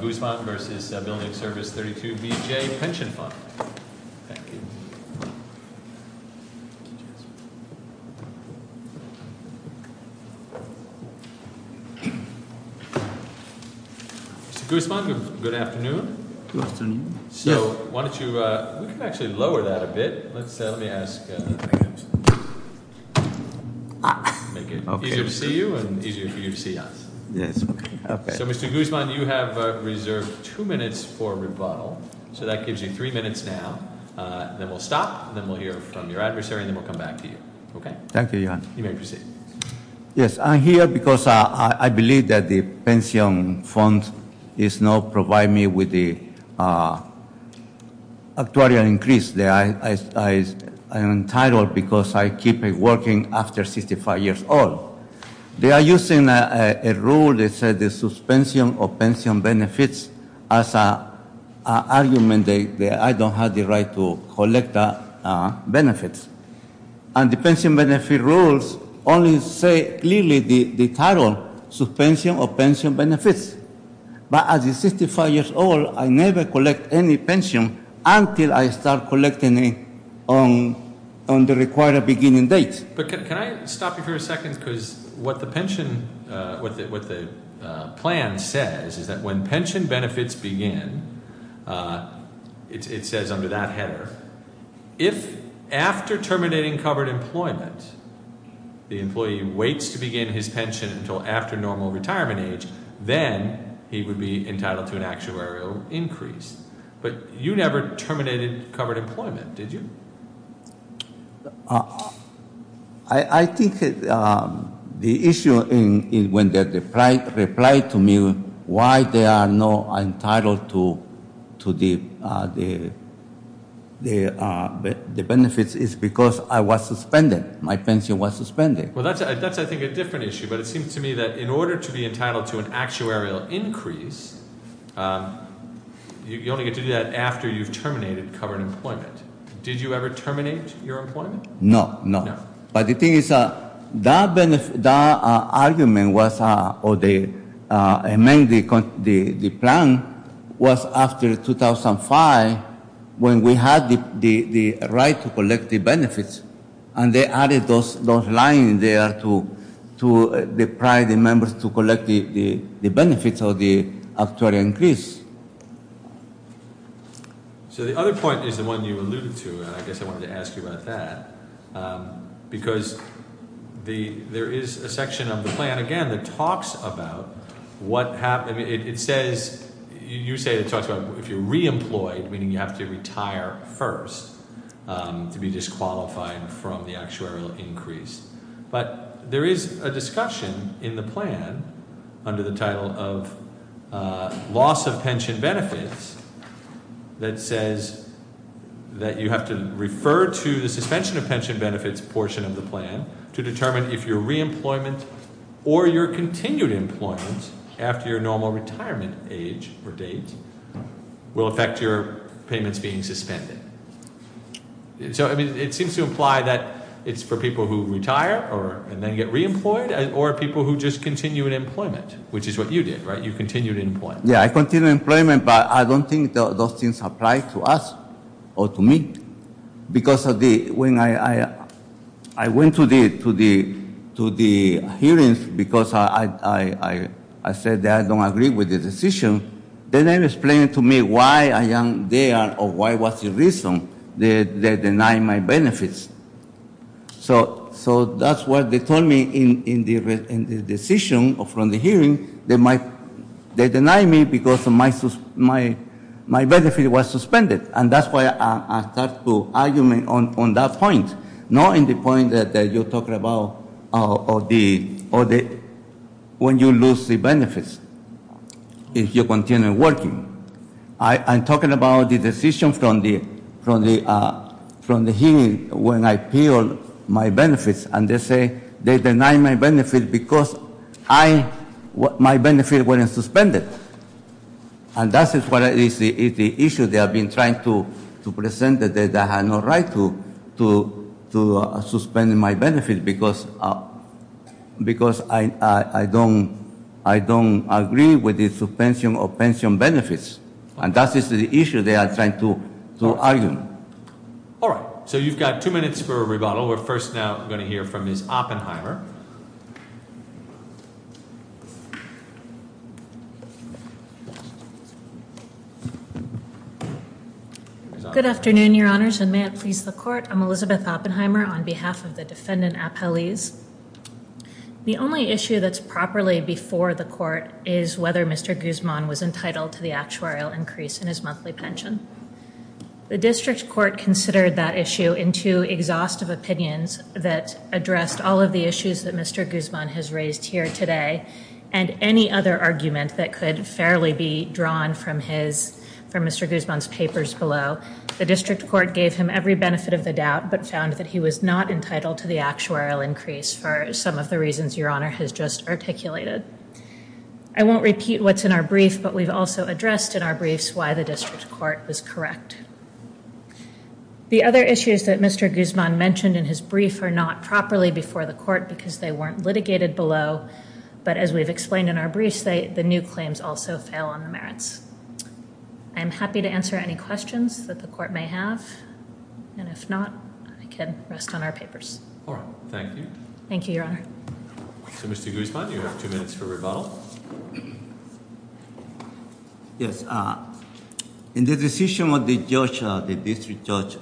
Guzman v. Building Service 32BJ Pension Fund Mr. Guzman, good afternoon. Good afternoon. So, why don't you, we can actually lower that a bit. Let's, let me ask, make it easier to see you and easier for you to see us. Yes. Okay. So, Mr. Guzman, you have reserved two minutes for rebuttal. So, that gives you three minutes now. Then we'll stop, then we'll hear from your adversary, and then we'll come back to you. Okay? Thank you, John. You may proceed. Yes, I'm here because I believe that the pension fund is not providing me with the actuarial increase. I am entitled because I keep working after 65 years old. They are using a rule that says the suspension of pension benefits as an argument that I don't have the right to collect benefits. And the pension benefit rules only say clearly the title, suspension of pension benefits. But at 65 years old, I never collect any pension until I start collecting it on the required beginning date. But can I stop you for a second? Because what the pension, what the plan says is that when pension benefits begin, it says under that header, if after terminating covered employment the employee waits to begin his pension until after normal retirement age, then he would be entitled to an actuarial increase. But you never terminated covered employment, did you? I think the issue when they replied to me why they are not entitled to the benefits is because I was suspended. My pension was suspended. Well, that's I think a different issue. But it seems to me that in order to be entitled to an actuarial increase, you only get to do that after you've terminated covered employment. Did you ever terminate your employment? No, no. So the other point is the one you alluded to, and I guess I wanted to ask you about that. Because there is a section of the plan, again, that talks about what happened. It says, you say it talks about if you're re-employed, meaning you have to retire first to be disqualified from the actuarial increase. But there is a discussion in the plan under the title of loss of pension benefits that says that you have to refer to the suspension of pension benefits portion of the plan to determine if your re-employment or your continued employment after your normal retirement age or date will affect your payments being suspended. So it seems to imply that it's for people who retire and then get re-employed or people who just continue in employment, which is what you did, right? You continued employment. Yeah, I continued employment, but I don't think those things apply to us or to me. Because when I went to the hearings because I said that I don't agree with the decision, they didn't explain to me why I am there or what was the reason. They denied my benefits. So that's what they told me in the decision from the hearing. They denied me because my benefit was suspended. And that's why I start to argue on that point, not in the point that you're talking about when you lose the benefits if you continue working. I'm talking about the decision from the hearing when I appealed my benefits, and they say they denied my benefit because my benefit wasn't suspended. And that is the issue they have been trying to present that I have no right to suspend my benefit because I don't agree with the suspension of pension benefits. And that is the issue they are trying to argue. All right. So you've got two minutes for a rebuttal. We're first now going to hear from Ms. Oppenheimer. Good afternoon, Your Honors, and may it please the court. I'm Elizabeth Oppenheimer on behalf of the defendant appellees. The only issue that's properly before the court is whether Mr. Guzman was entitled to the actuarial increase in his monthly pension. The district court considered that issue in two exhaustive opinions that addressed all of the issues that Mr. Guzman has raised here today and any other argument that could fairly be drawn from Mr. Guzman's papers below. The district court gave him every benefit of the doubt but found that he was not entitled to the actuarial increase for some of the reasons Your Honor has just articulated. I won't repeat what's in our brief, but we've also addressed in our briefs why the district court was correct. The other issues that Mr. Guzman mentioned in his brief are not properly before the court because they weren't litigated below, but as we've explained in our briefs, the new claims also fail on the merits. I'm happy to answer any questions that the court may have, and if not, I can rest on our papers. All right. Thank you. Thank you, Your Honor. So, Mr. Guzman, you have two minutes for rebuttal. Yes. In the decision of the judge, the district judge,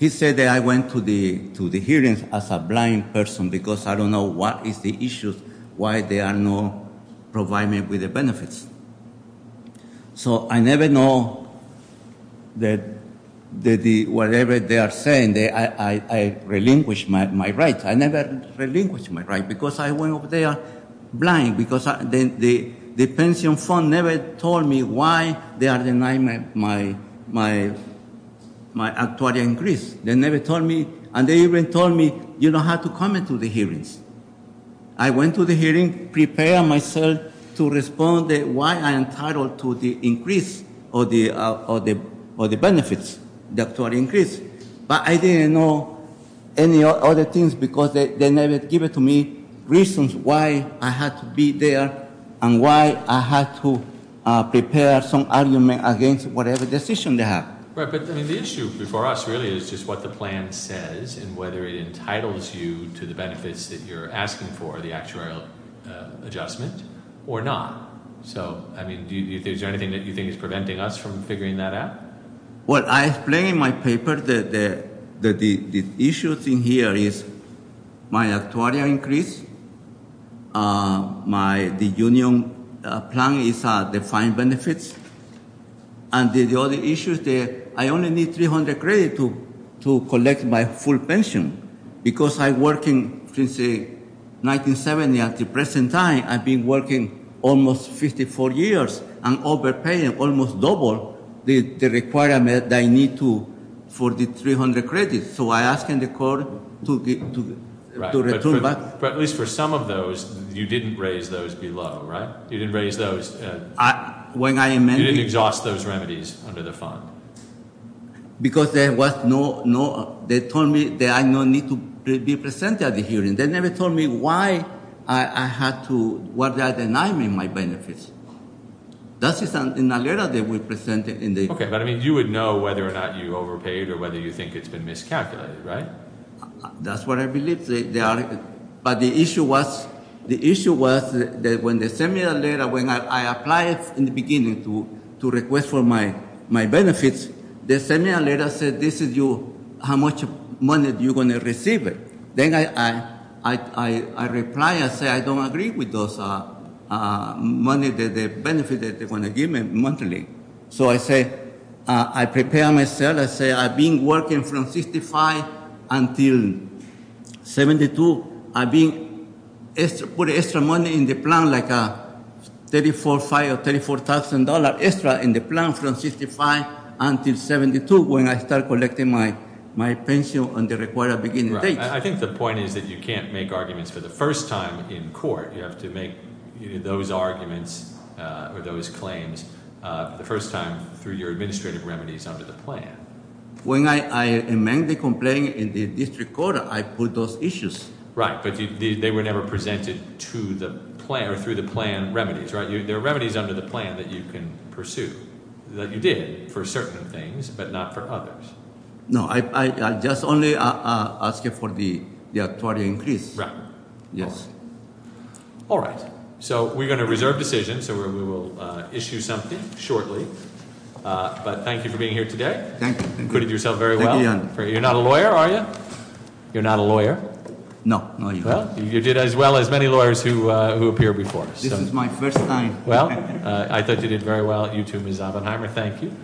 he said that I went to the hearings as a blind person because I don't know what is the issue, why they are not providing me with the benefits. So I never know that whatever they are saying, I relinquish my right. I never relinquish my right because I went over there blind because the pension fund never told me why they are denying my actuarial increase. They never told me, and they even told me, you don't have to come to the hearings. I went to the hearings, prepared myself to respond why I am entitled to the increase or the benefits, the actuarial increase. But I didn't know any other things because they never give it to me, reasons why I had to be there and why I had to prepare some argument against whatever decision they have. Right, but the issue before us really is just what the plan says and whether it entitles you to the benefits that you're asking for, the actuarial adjustment, or not. So, I mean, is there anything that you think is preventing us from figuring that out? Well, I explain in my paper that the issues in here is my actuarial increase, the union plan is the fine benefits, and the other issue is that I only need 300 credits to collect my full pension because I've been working since 1970. At the present time, I've been working almost 54 years and overpaying almost double the requirement that I need for the 300 credits. So, I ask the court to return back. Right, but at least for some of those, you didn't raise those below, right? You didn't raise those. When I amended. You didn't exhaust those remedies under the fund. Because there was no, they told me that I don't need to be presented at the hearings. They never told me why I had to, why they are denying me my benefits. That is in a letter they were presenting. Okay, but I mean, you would know whether or not you overpaid or whether you think it's been miscalculated, right? That's what I believe. But the issue was, the issue was that when they sent me a letter, when I applied in the beginning to request for my benefits, they sent me a letter that said, this is you, how much money are you going to receive? Then I replied, I said, I don't agree with those money, the benefit that they're going to give me monthly. So, I said, I prepared myself. I said, I've been working from 65 until 72. I put extra money in the plan, like $34,500 or $34,000 extra in the plan from 65 until 72 when I started collecting my pension on the required beginning date. I think the point is that you can't make arguments for the first time in court. You have to make those arguments or those claims the first time through your administrative remedies under the plan. When I amend the complaint in the district court, I put those issues. Right, but they were never presented to the plan or through the plan remedies, right? They're remedies under the plan that you can pursue, that you did for certain things, but not for others. No, I just only ask you for the increase. Right. Yes. All right, so we're going to reserve decision, so we will issue something shortly. But thank you for being here today. Thank you. Included yourself very well. Thank you, Your Honor. You're not a lawyer, are you? You're not a lawyer? No, no, Your Honor. Well, you did as well as many lawyers who appear before us. This is my first time. Well, I thought you did very well. You too, Ms. Oppenheimer. Thank you.